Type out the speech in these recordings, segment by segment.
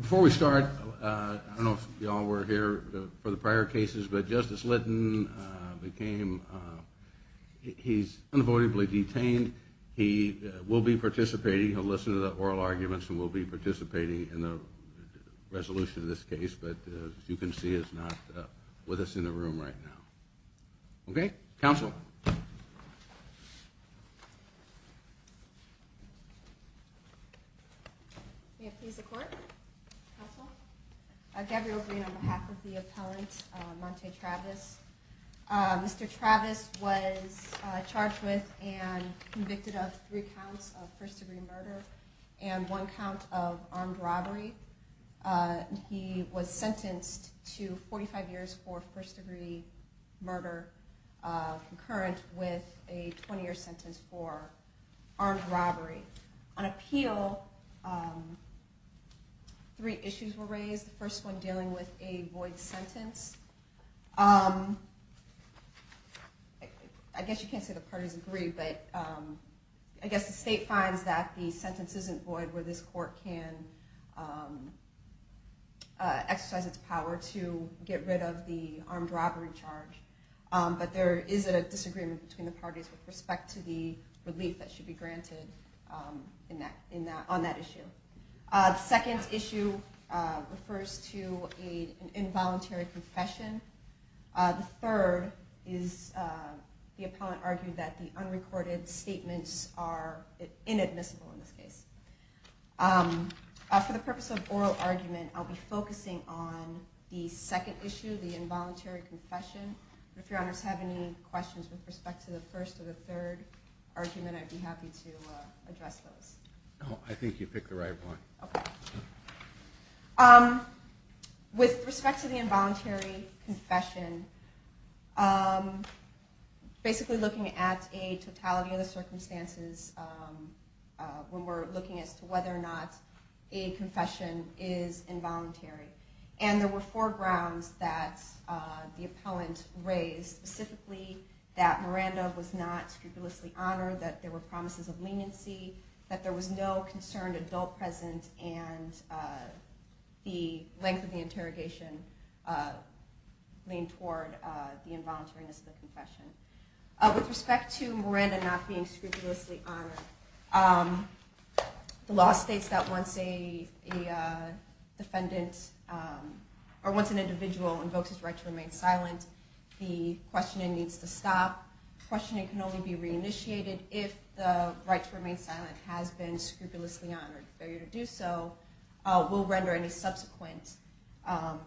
Before we start, I don't know if y'all were here for the prior cases, but Justice Lytton became, he's unavoidably detained. He will be participating, he'll listen to the oral arguments and will be participating in the hearing. He'll be participating in the resolution of this case, but as you can see, he's not with us in the room right now. Okay? Counsel. On behalf of the appellant, Mr. Travis was charged with and convicted of three counts of first degree murder and one count of armed robbery. He was sentenced to 45 years for first degree murder. Concurrent with a 20 year sentence for armed robbery. On appeal, three issues were raised. The first one dealing with a void sentence. I guess you can't say the parties agree, but I guess the state finds that the sentence isn't void where this court can exercise its power to get rid of the armed robbery charge. But there is a disagreement between the parties with respect to the relief that should be granted on that issue. The second issue refers to an involuntary confession. The third is the appellant argued that the unrecorded statements are inadmissible in this case. For the purpose of oral argument, I'll be focusing on the second issue, the involuntary confession. If your honors have any questions with respect to the first or the third argument, I'd be happy to address those. I think you picked the right one. Okay. With respect to the involuntary confession, basically looking at a totality of the circumstances when we're looking as to whether or not a confession is involuntary. And there were four grounds that the appellant raised. Specifically, that Miranda was not scrupulously honored, that there were promises of leniency, that there was no concerned adult present, and the length of the interrogation leaned toward the involuntariness of the confession. With respect to Miranda not being scrupulously honored, the law states that once an individual invokes his right to remain silent, the questioning needs to stop. Questioning can only be reinitiated if the right to remain silent has been scrupulously honored. Failure to do so will render any subsequent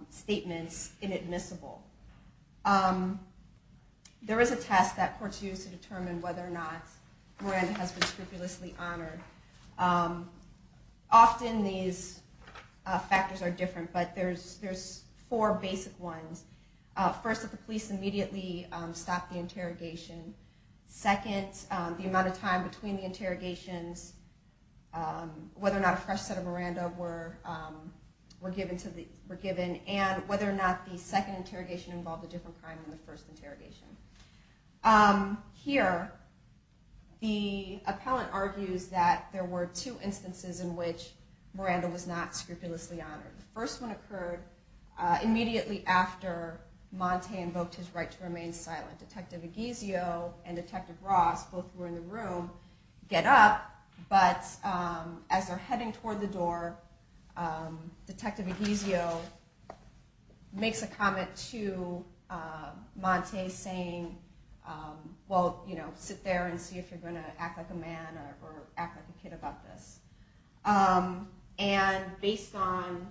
statements inadmissible. There is a test that courts use to determine whether or not Miranda has been scrupulously honored. Often these factors are different, but there's four basic ones. First, that the police immediately stop the interrogation. Second, the amount of time between the interrogations, whether or not a fresh set of Miranda were given, and whether or not the second interrogation involved a different crime than the first interrogation. Here, the appellant argues that there were two instances in which Miranda was not scrupulously honored. The first one occurred immediately after Montay invoked his right to remain silent. This is where Detective Aguizio and Detective Ross, both who were in the room, get up, but as they're heading toward the door, Detective Aguizio makes a comment to Montay saying, well, sit there and see if you're going to act like a man or act like a kid about this. And based on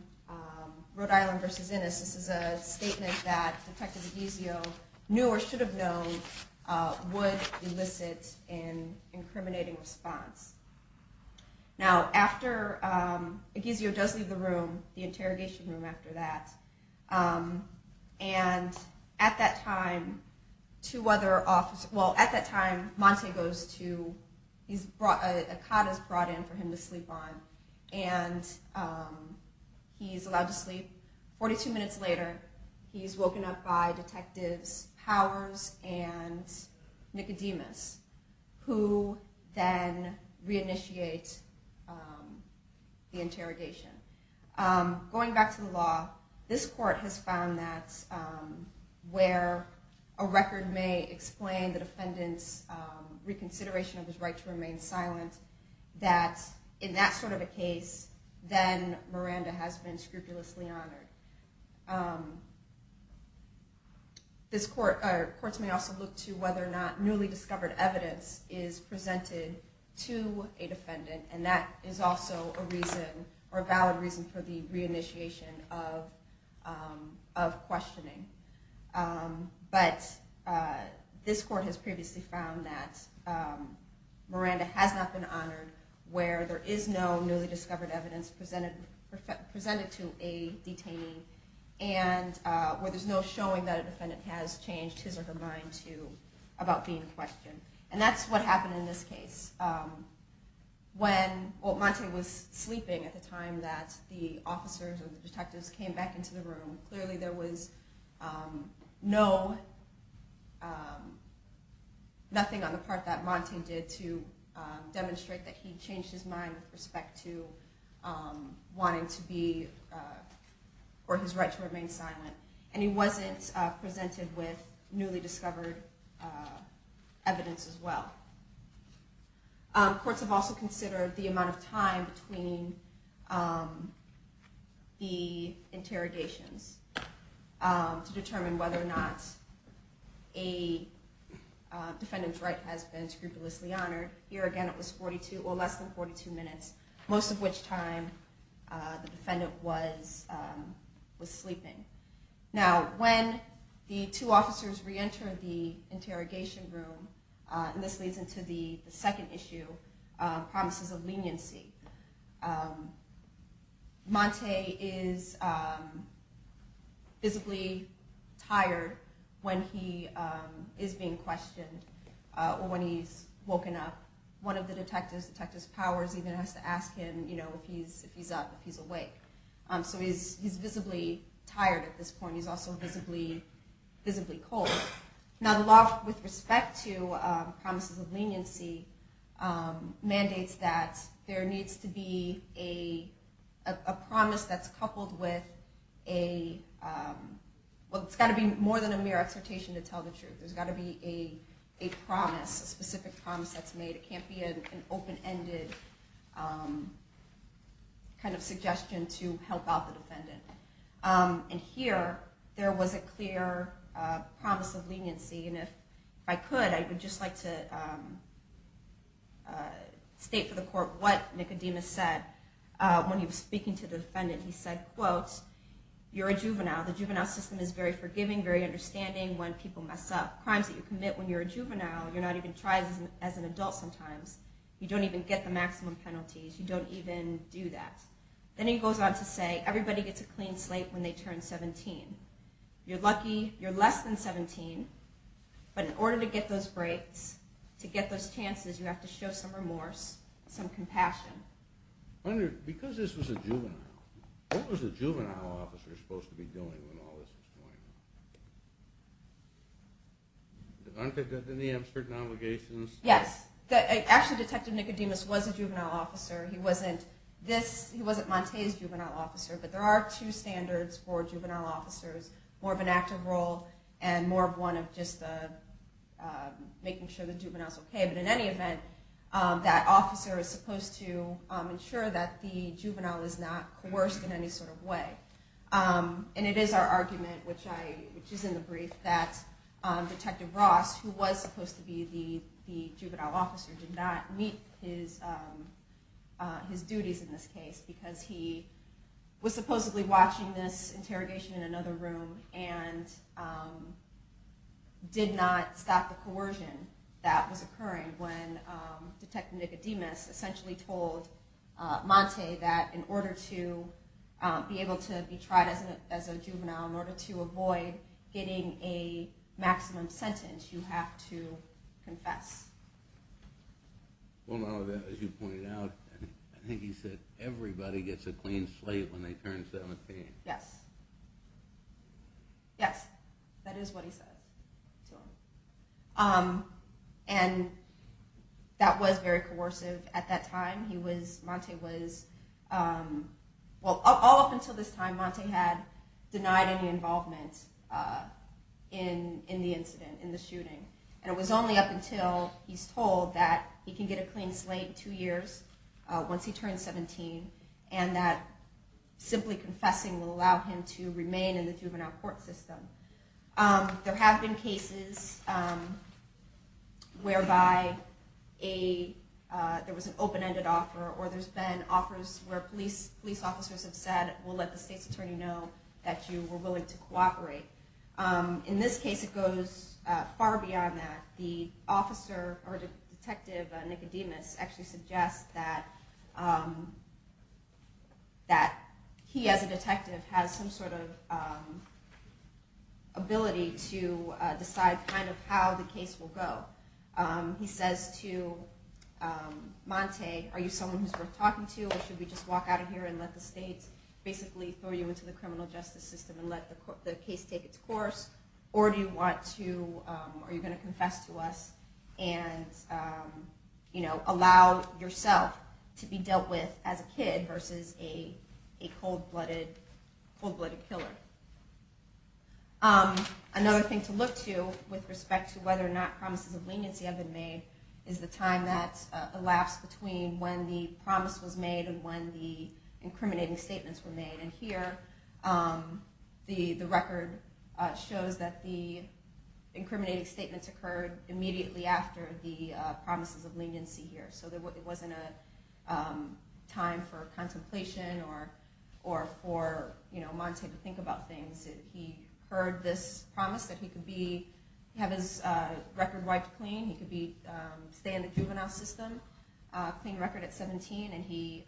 Rhode Island v. Innis, this is a statement that Detective Aguizio knew or should have known would elicit an incriminating response. Now, after Aguizio does leave the room, the interrogation room after that, and at that time, Montay goes to, a cot is brought in for him to sleep on, and he's allowed to sleep. Forty-two minutes later, he's woken up by Detectives Powers and Nicodemus, who then reinitiate the interrogation. Going back to the law, this court has found that where a record may explain the defendant's reconsideration of his right to remain silent, that in that sort of a case, then Miranda has been scrupulously honored. Courts may also look to whether or not newly discovered evidence is presented to a defendant, and that is also a valid reason for the reinitiation of questioning. But this court has previously found that Miranda has not been honored where there is no newly discovered evidence presented to a detainee, and where there's no showing that a defendant has changed his or her mind about being questioned. And that's what happened in this case. When Montay was sleeping at the time that the officers and the detectives came back into the room, clearly there was nothing on the part that Montay did to demonstrate that he changed his mind with respect to wanting to be, or his right to remain silent. And he wasn't presented with newly discovered evidence as well. Courts have also considered the amount of time between the interrogations to determine whether or not a defendant's right has been scrupulously honored. Here again it was less than 42 minutes, most of which time the defendant was sleeping. Now when the two officers reenter the interrogation room, and this leads into the second issue, promises of leniency. Montay is visibly tired when he is being questioned, or when he's woken up. One of the detectives, Detective Powers, even has to ask him if he's up, if he's awake. So he's visibly tired at this point. He's also visibly cold. Now the law with respect to promises of leniency mandates that there needs to be a promise that's coupled with a, well it's got to be more than a mere exhortation to tell the truth. There's got to be a promise, a specific promise that's made. It can't be an open-ended kind of suggestion to help out the defendant. And here, there was a clear promise of leniency. And if I could, I would just like to state for the court what Nicodemus said when he was speaking to the defendant. He said, quote, you're a juvenile. The juvenile system is very forgiving, very understanding when people mess up. Crimes that you commit when you're a juvenile, you're not even tried as an adult sometimes. You don't even get the maximum penalties. You don't even do that. Then he goes on to say, everybody gets a clean slate when they turn 17. You're lucky you're less than 17, but in order to get those breaks, to get those chances, you have to show some remorse, some compassion. Because this was a juvenile, what was a juvenile officer supposed to be doing when all this was going on? Aren't there any certain obligations? Yes. Actually, Detective Nicodemus was a juvenile officer. He wasn't Montez's juvenile officer. But there are two standards for juvenile officers, more of an active role and more of one of just making sure the juvenile is okay. But in any event, that officer is supposed to ensure that the juvenile is not coerced in any sort of way. And it is our argument, which is in the brief, that Detective Ross, who was supposed to be the juvenile officer, did not meet his duties in this case. Because he was supposedly watching this interrogation in another room and did not stop the coercion that was occurring when Detective Nicodemus essentially told Montez that in order to be able to be tried as a juvenile, in order to avoid getting a maximum sentence, you have to confess. Well, as you pointed out, I think he said, everybody gets a clean slate when they turn 17. Yes. Yes. That is what he says. And that was very coercive at that time. Montez was, well, all up until this time, Montez had denied any involvement in the incident, in the shooting. And it was only up until he's told that he can get a clean slate in two years, once he turns 17, and that simply confessing will allow him to remain in the juvenile court system. There have been cases whereby there was an open-ended offer or there's been offers where police officers have said, we'll let the state's attorney know that you were willing to cooperate. In this case, it goes far beyond that. The officer, or Detective Nicodemus, actually suggests that he as a detective has some sort of ability to decide kind of how the case will go. He says to Montez, are you someone who's worth talking to, or should we just walk out of here and let the state basically throw you into the criminal justice system and let the case take its course, or are you going to confess to us and allow yourself to be dealt with as a kid versus a cold-blooded killer? Another thing to look to with respect to whether or not promises of leniency have been made is the time that elapsed between when the promise was made and when the incriminating statements were made. And here, the record shows that the incriminating statements occurred immediately after the promises of leniency here. So there wasn't a time for contemplation or for Montez to think about things. He heard this promise that he could have his record wiped clean, he could stay in the juvenile system, clean record at 17, and he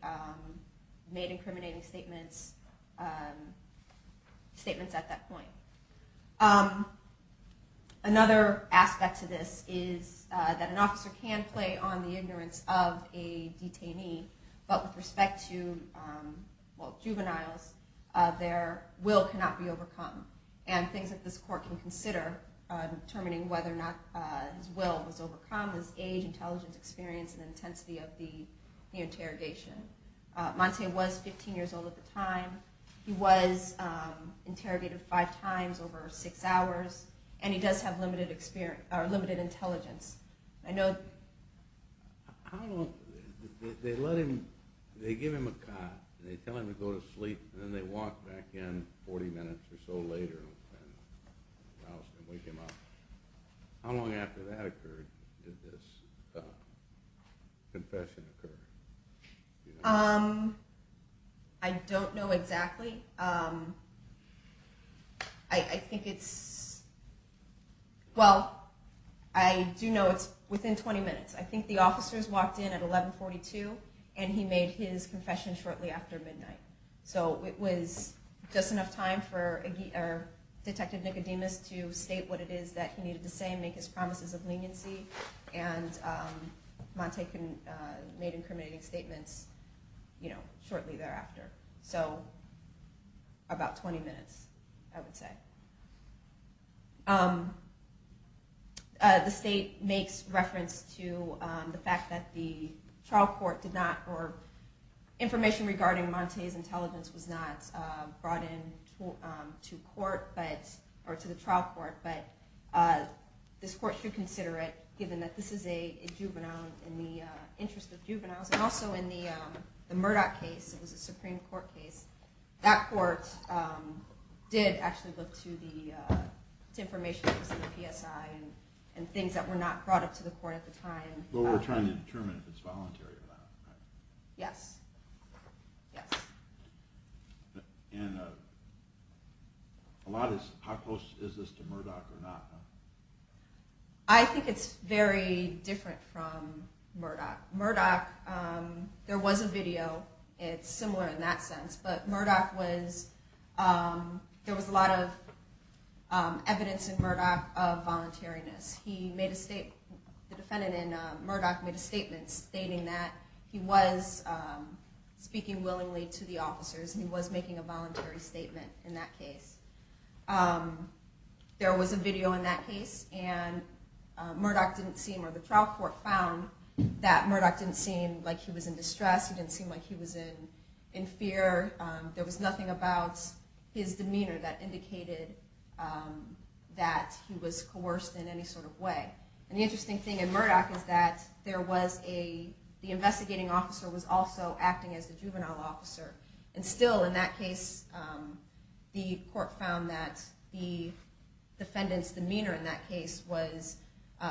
made incriminating statements at that point. Another aspect to this is that an officer can play on the ignorance of a detainee, but with respect to juveniles, their will cannot be overcome. And things that this court can consider, determining whether or not his will was overcome, is age, intelligence, experience, and intensity of the interrogation. Montez was 15 years old at the time. He was interrogated five times over six hours, and he does have limited intelligence. They give him a cot, and they tell him to go to sleep, and then they walk back in 40 minutes or so later and wake him up. How long after that occurred did this confession occur? I don't know exactly. I think it's, well, I do know it's within 20 minutes. I think the officers walked in at 1142, and he made his confession shortly after midnight. So it was just enough time for Detective Nicodemus to state what it is that he needed to say and make his promises of leniency, and Montez made incriminating statements shortly thereafter. So about 20 minutes, I would say. The state makes reference to the fact that the trial court did not, or information regarding Montez's intelligence was not brought into court, or to the trial court, but this court should consider it, given that this is a juvenile in the interest of juveniles. And also in the Murdoch case, it was a Supreme Court case, that court did actually look to the information that was in the PSI and things that were not brought up to the court at the time. But we're trying to determine if it's voluntary or not, right? Yes. Yes. And how close is this to Murdoch or not? I think it's very different from Murdoch. Murdoch, there was a video, it's similar in that sense, but Murdoch was, there was a lot of evidence in Murdoch of voluntariness. He made a statement, the defendant in Murdoch made a statement, stating that he was speaking willingly to the officers, and he was making a voluntary statement in that case. There was a video in that case, and Murdoch didn't seem, or the trial court found that Murdoch didn't seem like he was in distress, he didn't seem like he was in fear, there was nothing about his demeanor that indicated that he was coerced in any sort of way. And the interesting thing in Murdoch is that there was a, the investigating officer was also acting as the juvenile officer. And still in that case, the court found that the defendant's demeanor in that case was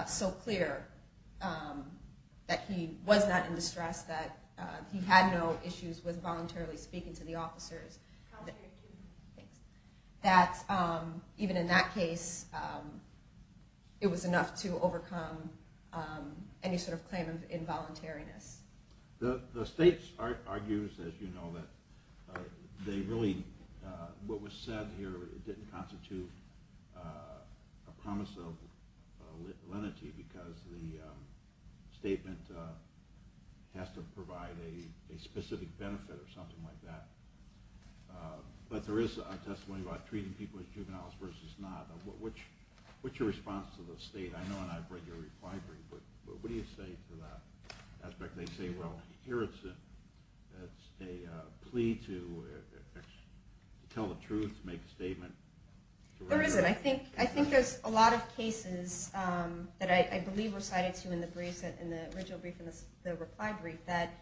so clear that he was not in distress, that he had no issues with voluntarily speaking to the officers. That even in that case, it was enough to overcome any sort of claim of involuntariness. The state argues, as you know, that they really, what was said here didn't constitute a promise of lenity, because the statement has to provide a specific benefit or something like that. But there is a testimony about treating people as juveniles versus not. What's your response to the state? I know and I've read your reply brief, but what do you say to that aspect? They say, well, here it's a plea to tell the truth, make a statement. There isn't. I think there's a lot of cases that I believe were cited to in the brief, in the original brief and the reply brief, that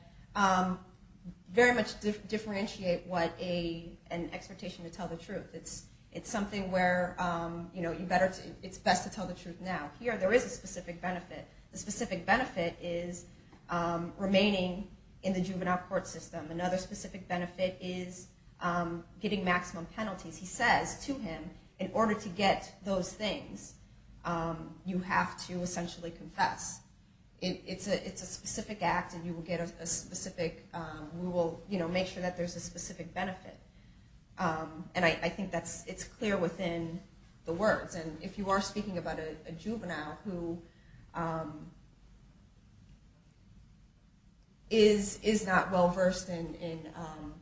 very much differentiate what an expectation to tell the truth. It's something where it's best to tell the truth now. Here, there is a specific benefit. The specific benefit is remaining in the juvenile court system. Another specific benefit is getting maximum penalties. He says to him, in order to get those things, you have to essentially confess. It's a specific act and you will get a specific, we will make sure that there's a specific benefit. I think it's clear within the words. If you are speaking about a juvenile who is not well-versed in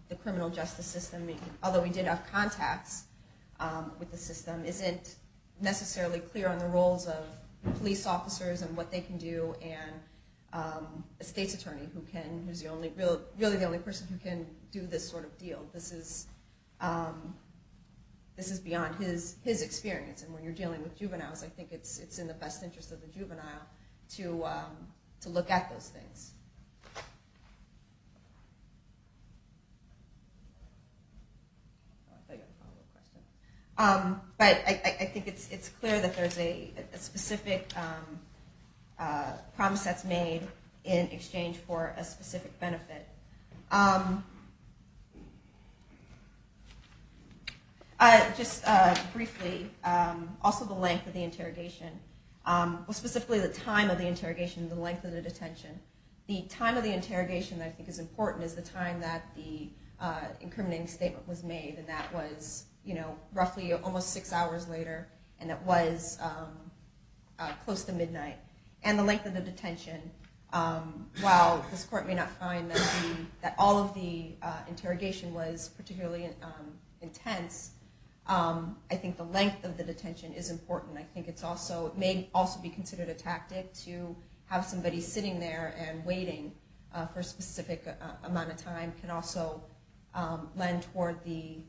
the criminal justice system, although he did have contacts with the system, isn't necessarily clear on the roles of police officers and what they can do and a state's attorney who's really the only person who can do this sort of deal. This is beyond his experience. When you're dealing with juveniles, I think it's in the best interest of the juvenile to look at those things. I think it's clear that there's a specific promise that's made in exchange for a specific benefit. Just briefly, also the length of the interrogation. Specifically, the time of the interrogation and the length of the detention. The time of the interrogation I think is important is the time that the incriminating statement was made. That was roughly almost six hours later and it was close to midnight. The length of the detention, while this court may not find that all of the interrogation was particularly intense, I think the length of the detention is important. It may also be considered a tactic to have somebody sitting there and waiting for a specific amount of time. It can also lend toward the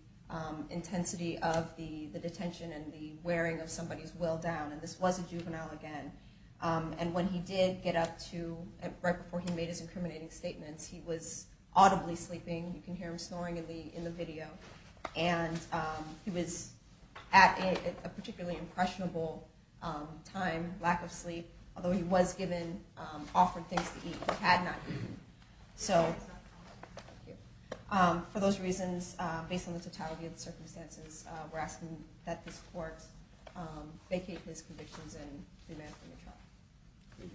intensity of the detention and the wearing of somebody's will down. This was a juvenile again. When he did get up to, right before he made his incriminating statements, he was audibly sleeping. You can hear him snoring in the video. He was at a particularly impressionable time, lack of sleep. Although he was given offered things to eat, he had not eaten. For those reasons, based on the totality of the circumstances, we're asking that this court vacate his convictions and remand him in trial. Thank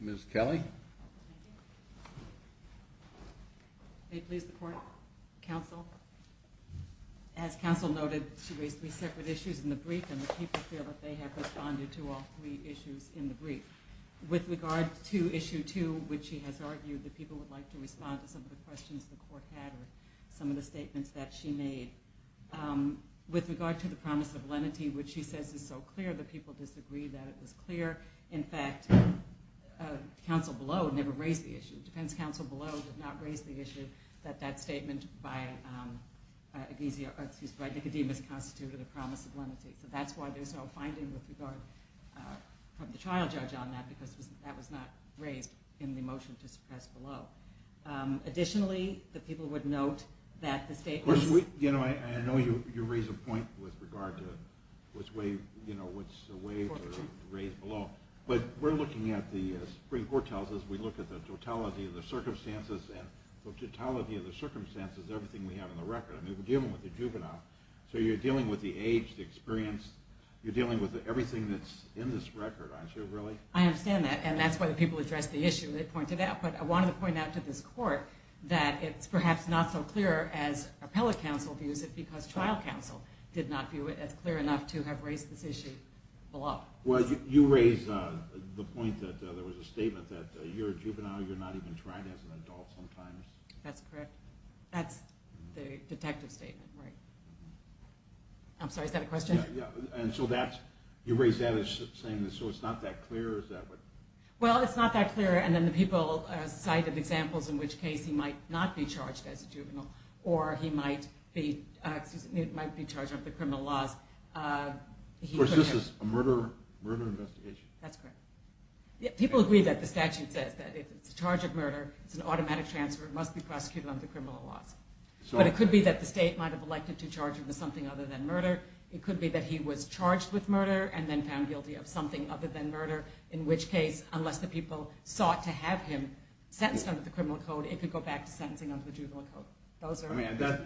you. Ms. Kelly? May it please the court, counsel. As counsel noted, she raised three separate issues in the brief and the people feel that they have responded to all three issues in the brief. With regard to issue two, which she has argued that people would like to respond to some of the questions the court had or some of the statements that she made. With regard to the promise of lenity, which she says is so clear that people disagree that it was clear. In fact, counsel below never raised the issue. The defense counsel below did not raise the issue that that statement by Nicodemus constituted a promise of lenity. So that's why there's no finding with regard from the trial judge on that because that was not raised in the motion to suppress below. Additionally, the people would note that the state was – You know, I know you raised a point with regard to which way, you know, which way to raise below. But we're looking at the – the Supreme Court tells us we look at the totality of the circumstances and the totality of the circumstances is everything we have on the record. I mean, we're dealing with a juvenile. So you're dealing with the age, the experience. You're dealing with everything that's in this record, aren't you, really? I understand that, and that's why the people addressed the issue they pointed out. But I wanted to point out to this court that it's perhaps not so clear as appellate counsel views it because trial counsel did not view it as clear enough to have raised this issue below. Well, you raised the point that there was a statement that you're a juvenile. You're not even tried as an adult sometimes. That's correct. That's the detective statement, right. I'm sorry, is that a question? Yeah, yeah. And so that's – you raised that as saying so it's not that clear. Is that what – Well, it's not that clear, and then the people cited examples in which Casey might not be charged as a juvenile or he might be – excuse me – might be charged under criminal laws. Of course, this is a murder investigation. That's correct. People agree that the statute says that if it's a charge of murder, it's an automatic transfer, it must be prosecuted under criminal laws. But it could be that the state might have elected to charge him with something other than murder. It could be that he was charged with murder and then found guilty of something other than murder, in which case, unless the people sought to have him sentenced under the criminal code, it could go back to sentencing under the juvenile code.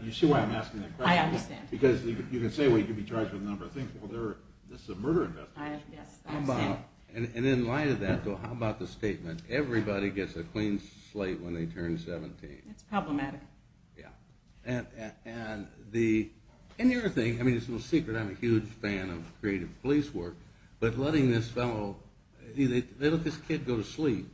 You see why I'm asking that question? I understand. Because you can say, well, you can be charged with a number of things. Well, this is a murder investigation. I understand. And in light of that, though, how about the statement, everybody gets a clean slate when they turn 17? That's problematic. Yeah. And the other thing – I mean, it's no secret I'm a huge fan of creative police work, but letting this fellow – they let this kid go to sleep.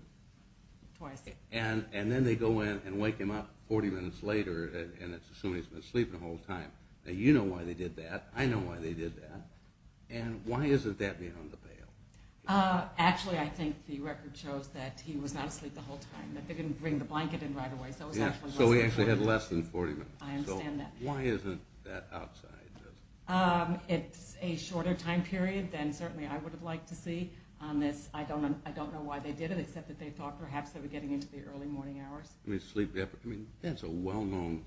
Twice a day. And then they go in and wake him up 40 minutes later, and it's assuming he's been asleep the whole time. Now, you know why they did that. I know why they did that. And why isn't that being on the bail? Actually, I think the record shows that he was not asleep the whole time, that they didn't bring the blanket in right away, so it was actually less than 40 minutes. So he actually had less than 40 minutes. I understand that. So why isn't that outside? It's a shorter time period than certainly I would have liked to see on this. I don't know why they did it, except that they thought perhaps they were getting into the early morning hours. I mean, that's a well-known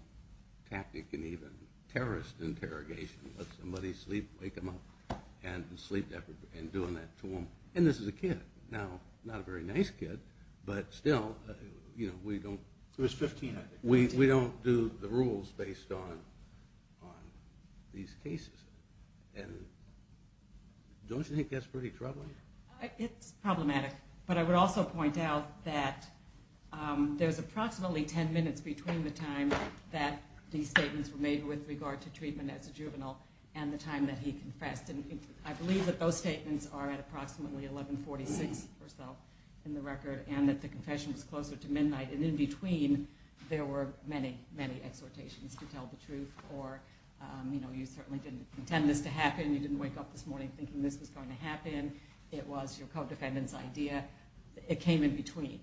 tactic in even terrorist interrogation. Let somebody sleep, wake them up, and do that to them. And this is a kid. Now, not a very nice kid, but still, we don't do the rules based on these cases. And don't you think that's pretty troubling? It's problematic. But I would also point out that there's approximately 10 minutes between the time that these statements were made with regard to treatment as a juvenile and the time that he confessed. And I believe that those statements are at approximately 1146 or so in the record, and that the confession was closer to midnight. And in between, there were many, many exhortations to tell the truth, or, you know, you certainly didn't intend this to happen. It was your co-defendant's idea. It came in between.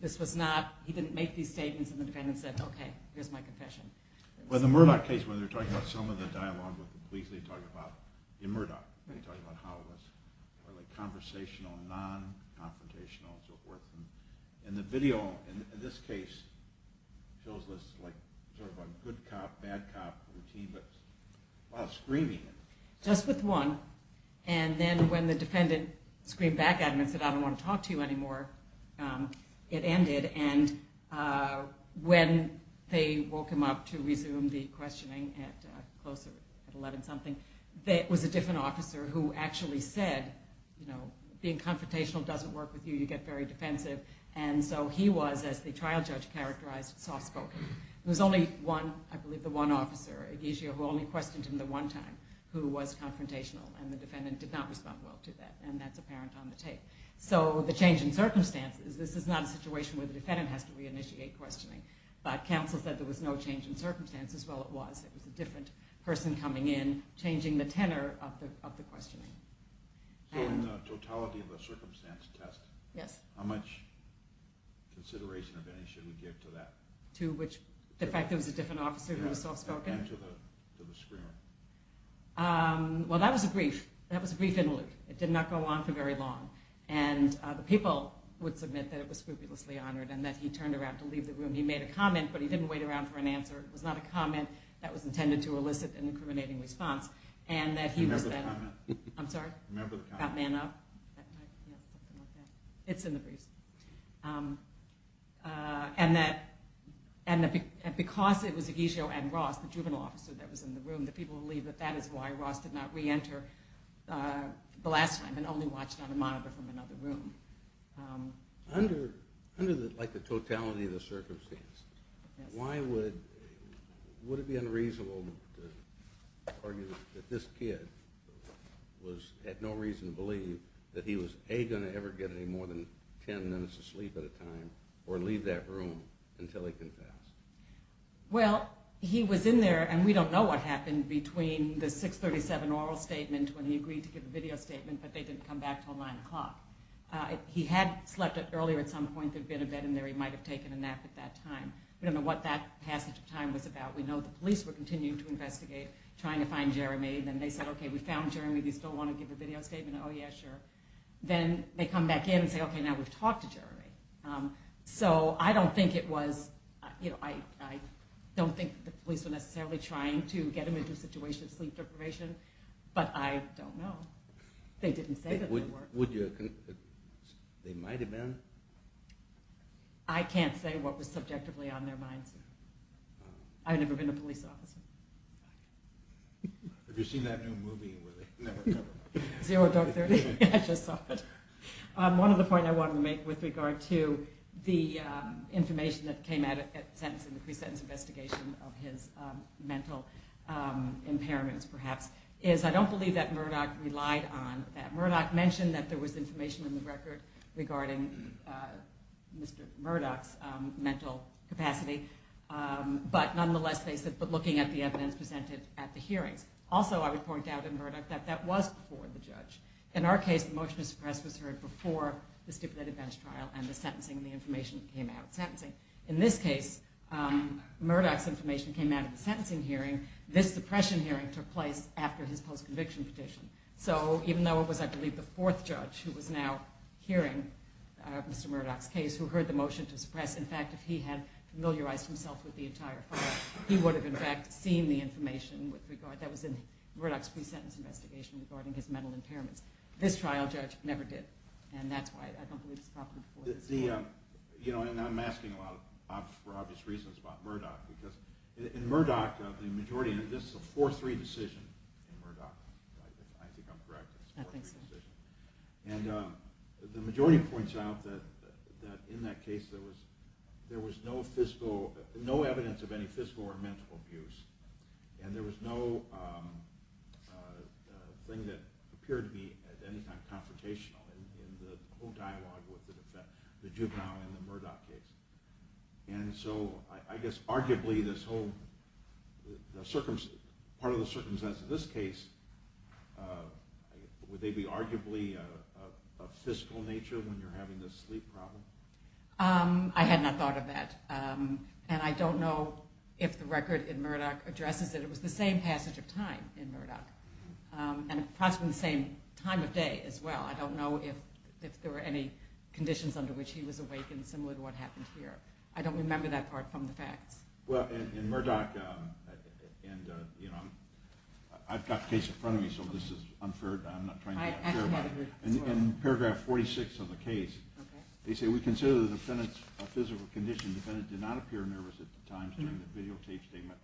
This was not, he didn't make these statements, and the defendant said, okay, here's my confession. In the Murdoch case, when they're talking about some of the dialogue with the police, they talk about, in Murdoch, they talk about how it was conversational, non-confrontational, and so forth. And the video in this case shows this sort of good cop, bad cop routine, but a lot of screaming. Just with one. And then when the defendant screamed back at him and said, I don't want to talk to you anymore, it ended. And when they woke him up to resume the questioning at closer, at 11-something, there was a different officer who actually said, you know, being confrontational doesn't work with you. You get very defensive. And so he was, as the trial judge characterized, soft-spoken. There was only one, I believe the one officer, who only questioned him the one time, who was confrontational, and the defendant did not respond well to that, and that's apparent on the tape. So the change in circumstances, this is not a situation where the defendant has to reinitiate questioning, but counsel said there was no change in circumstances. Well, it was. It was a different person coming in, changing the tenor of the questioning. So in the totality of the circumstance test, how much consideration of any should we give to that? To which the fact there was a different officer who was soft-spoken? And to the screamer. Well, that was a brief. That was a brief interlude. It did not go on for very long. And the people would submit that it was scrupulously honored and that he turned around to leave the room. He made a comment, but he didn't wait around for an answer. It was not a comment that was intended to elicit an incriminating response. Remember the comment. I'm sorry? Remember the comment. That man up? Yeah, something like that. It's in the briefs. And that because it was Egizio and Ross, the juvenile officer that was in the room, the people believe that that is why Ross did not reenter the last time and only watched on a monitor from another room. Under the totality of the circumstances, would it be unreasonable to argue that this kid had no reason to believe that he was, A, going to ever get any more than 10 minutes of sleep at a time or leave that room until he confessed? Well, he was in there, and we don't know what happened between the 637 oral statement when he agreed to give a video statement, but they didn't come back until 9 o'clock. He had slept earlier at some point. There had been a bed in there. He might have taken a nap at that time. We don't know what that passage of time was about. We know the police were continuing to investigate, trying to find Jeremy. Then they said, okay, we found Jeremy. Do you still want to give a video statement? Oh, yeah, sure. Then they come back in and say, okay, now we've talked to Jeremy. So I don't think the police were necessarily trying to get him into a situation of sleep deprivation, but I don't know. They didn't say that they were. They might have been? I can't say what was subjectively on their minds. I've never been a police officer. Have you seen that new movie where they never cover him up? Zero Dark Thirty? I just saw it. One of the points I wanted to make with regard to the information that came out in the pre-sentence investigation of his mental impairments, perhaps, is I don't believe that Murdoch relied on that. Murdoch mentioned that there was information in the record regarding Mr. Murdoch's mental capacity, but nonetheless they said looking at the evidence presented at the hearings. Also, I would point out in Murdoch that that was before the judge. In our case, the motion to suppress was heard before the stipulated bench trial and the sentencing and the information that came out of the sentencing. In this case, Murdoch's information came out of the sentencing hearing. This suppression hearing took place after his post-conviction petition. So even though it was, I believe, the fourth judge who was now hearing Mr. Murdoch's case, who heard the motion to suppress, in fact, if he had familiarized himself with the entire file, he would have, in fact, seen the information that was in Murdoch's pre-sentence investigation regarding his mental impairments. This trial judge never did, and that's why I don't believe it's a problem. I'm asking for obvious reasons about Murdoch because in Murdoch, the majority, and this is a 4-3 decision in Murdoch, I think I'm correct. I think so. And the majority points out that in that case, there was no physical, no evidence of any physical or mental abuse, and there was no thing that appeared to be at any time confrontational in the whole dialogue with the juvenile in the Murdoch case. And so I guess arguably this whole, part of the circumstances of this case, would they be arguably of physical nature when you're having this sleep problem? I had not thought of that. And I don't know if the record in Murdoch addresses it. It was the same passage of time in Murdoch, and approximately the same time of day as well. I don't know if there were any conditions under which he was awake, and similar to what happened here. I don't remember that part from the facts. Well, in Murdoch, and I've got the case in front of me, so this is unfair. I'm not trying to be unfair about it. In paragraph 46 of the case, they say, we consider the defendant a physical condition. The defendant did not appear nervous at the time during the videotape statement,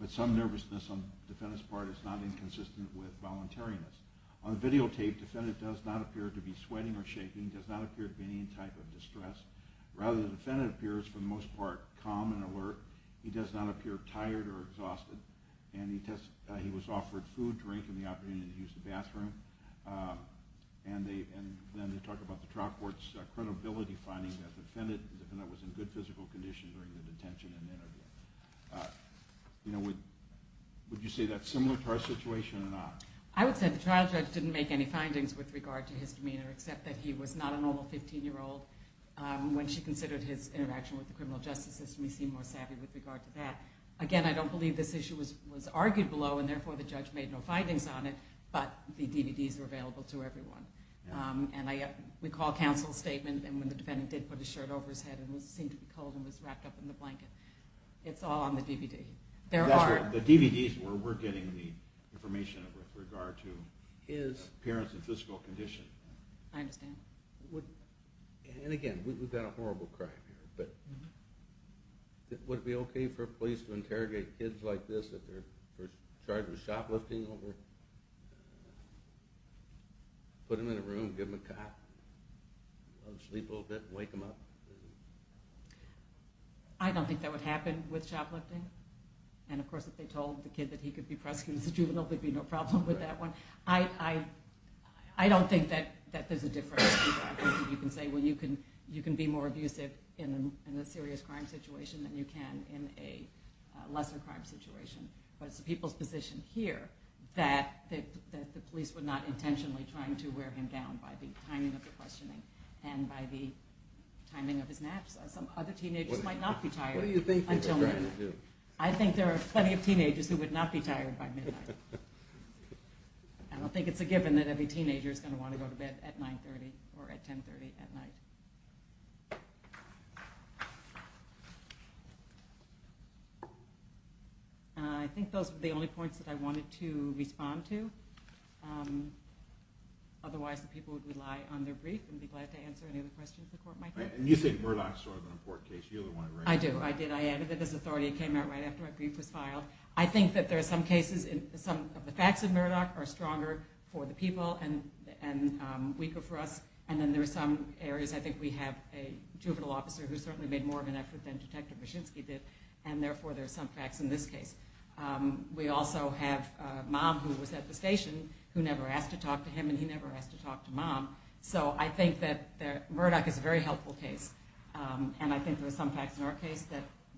but some nervousness on the defendant's part is not inconsistent with voluntariness. On the videotape, the defendant does not appear to be sweating or shaking. He does not appear to be in any type of distress. Rather, the defendant appears, for the most part, calm and alert. He does not appear tired or exhausted. And he was offered food, drink, and the opportunity to use the bathroom. And then they talk about the trial court's credibility finding that the defendant was in good physical condition during the detention and interview. Would you say that's similar to our situation or not? I would say the trial judge didn't make any findings with regard to his demeanor, except that he was not a normal 15-year-old. When she considered his interaction with the criminal justice system, he seemed more savvy with regard to that. Again, I don't believe this issue was argued below, and therefore the judge made no findings on it, but the DVDs were available to everyone. And we call counsel's statement, and when the defendant did put his shirt over his head and seemed to be cold and was wrapped up in the blanket, it's all on the DVD. The DVDs were where we're getting the information with regard to his appearance and physical condition. I understand. And again, we've got a horrible crime here, but would it be okay for police to interrogate kids like this if they're charged with shoplifting? Put them in a room, give them a cup, let them sleep a little bit, wake them up? I don't think that would happen with shoplifting. And of course, if they told the kid that he could be prosecuted as a juvenile, there'd be no problem with that one. I don't think that there's a difference. I think you can say, well, you can be more abusive in a serious crime situation than you can in a lesser crime situation. But it's the people's position here that the police were not intentionally trying to wear him down by the timing of the questioning and by the timing of his naps. Some other teenagers might not be tired until midnight. I think there are plenty of teenagers who would not be tired by midnight. I don't think it's a given that every teenager is going to want to go to bed at 9.30 or at 10.30 at night. I think those were the only points that I wanted to respond to. Otherwise, the people would rely on their brief and be glad to answer any other questions the court might have. And you said Murdoch is sort of an important case. You're the one who ran it. I do. I did. I added it as authority. It came out right after my brief was filed. I think that there are some cases, some of the facts of Murdoch are stronger for the people and weaker for us. And then there are some areas, I think we have a juvenile officer who certainly made more of an effort than Detective Mashinsky did, and therefore there are some facts in this case. We also have a mom who was at the station who never asked to talk to him and he never asked to talk to mom. So I think that Murdoch is a very helpful case. And I think there are some facts in our case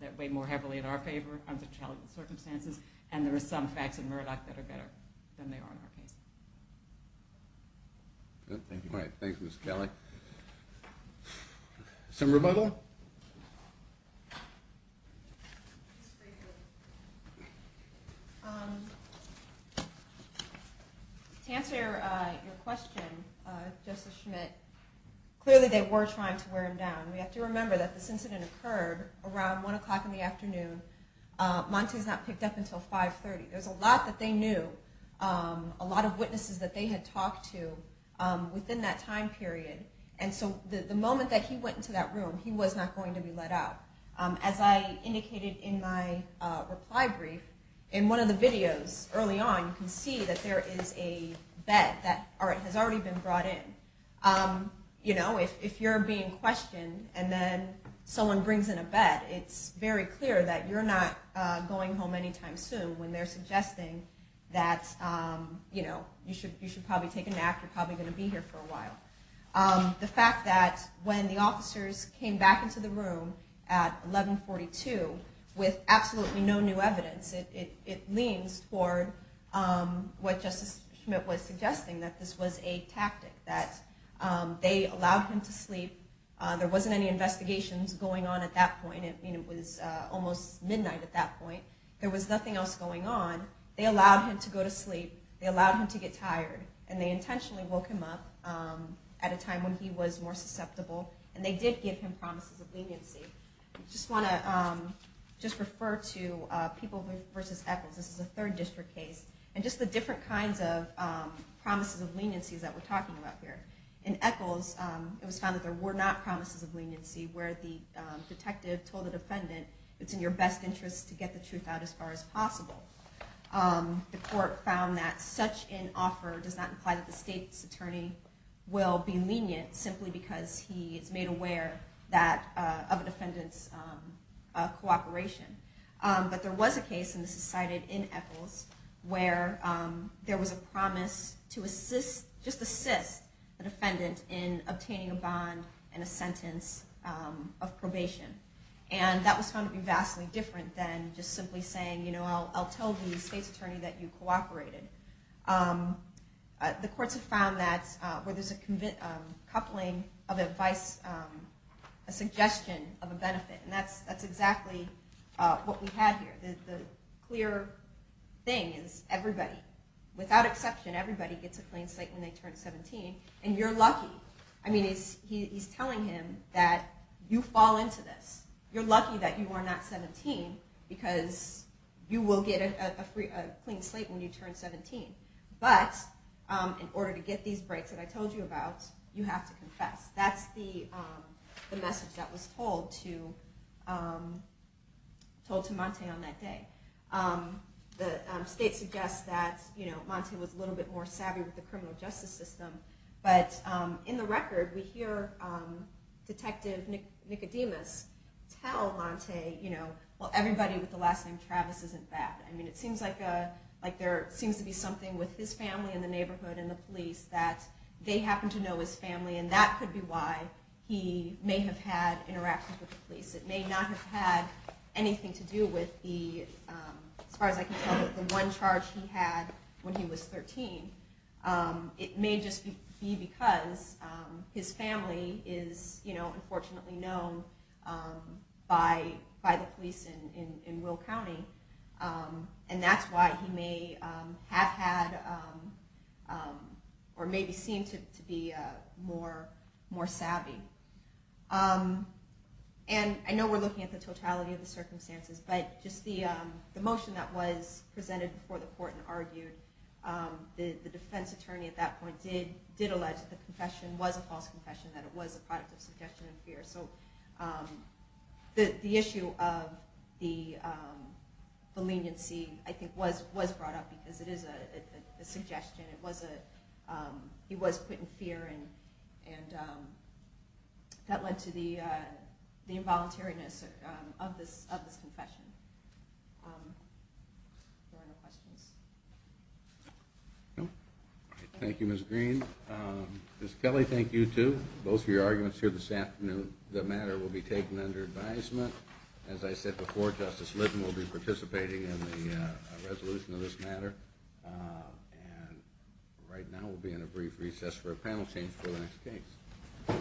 that weigh more heavily in our favor under challenging circumstances. And there are some facts in Murdoch that are better than they are in our case. Thank you, Ms. Kelly. Some rebuttal? To answer your question, Justice Schmidt, clearly they were trying to wear him down. We have to remember that this incident occurred around 1 o'clock in the afternoon. Monti's not picked up until 5.30. There's a lot that they knew, a lot of witnesses that they had talked to within that time period. And so the moment that he went into that room, he was not going to be let out. As I indicated in my reply brief, in one of the videos early on, you can see that there is a bed that has already been brought in. If you're being questioned and then someone brings in a bed, it's very clear that you're not going home anytime soon when they're suggesting that you should probably take a nap, you're probably going to be here for a while. The fact that when the officers came back into the room at 11.42, with absolutely no new evidence, it leans toward what Justice Schmidt was suggesting, that this was a tactic, that they allowed him to sleep. There wasn't any investigations going on at that point. It was almost midnight at that point. There was nothing else going on. They allowed him to go to sleep, they allowed him to get tired, and they intentionally woke him up at a time when he was more susceptible. And they did give him promises of leniency. I just want to refer to People v. Echols. This is a third district case. And just the different kinds of promises of leniency that we're talking about here. In Echols, it was found that there were not promises of leniency, where the detective told the defendant, the court found that such an offer does not imply that the state's attorney will be lenient, simply because he is made aware of a defendant's cooperation. But there was a case, and this is cited in Echols, where there was a promise to just assist the defendant in obtaining a bond and a sentence of probation. And that was found to be vastly different than just simply saying, I'll tell the state's attorney that you cooperated. The courts have found that where there's a coupling of advice, a suggestion of a benefit. And that's exactly what we have here. The clear thing is everybody, without exception, everybody gets a clean slate when they turn 17, and you're lucky. He's telling him that you fall into this. You're lucky that you are not 17, because you will get a clean slate when you turn 17. But in order to get these breaks that I told you about, you have to confess. That's the message that was told to Montay on that day. The state suggests that Montay was a little bit more savvy with the criminal justice system, but in the record we hear Detective Nicodemus tell Montay, well, everybody with the last name Travis isn't bad. It seems like there seems to be something with his family in the neighborhood and the police that they happen to know his family, and that could be why he may have had interactions with the police. It may not have had anything to do with, as far as I can tell, the one charge he had when he was 13. It may just be because his family is, unfortunately, known by the police in Will County, and that's why he may have had or maybe seemed to be more savvy. I know we're looking at the totality of the circumstances, but just the motion that was presented before the court and argued, the defense attorney at that point did allege that the confession was a false confession, that it was a product of suggestion and fear. So the issue of the leniency, I think, was brought up because it is a suggestion. He was put in fear, and that led to the involuntariness of this confession. Thank you, Ms. Green. Ms. Kelly, thank you, too, both for your arguments here this afternoon. The matter will be taken under advisement. As I said before, Justice Litton will be participating in the resolution of this matter. And right now we'll be in a brief recess for a panel change for the next case.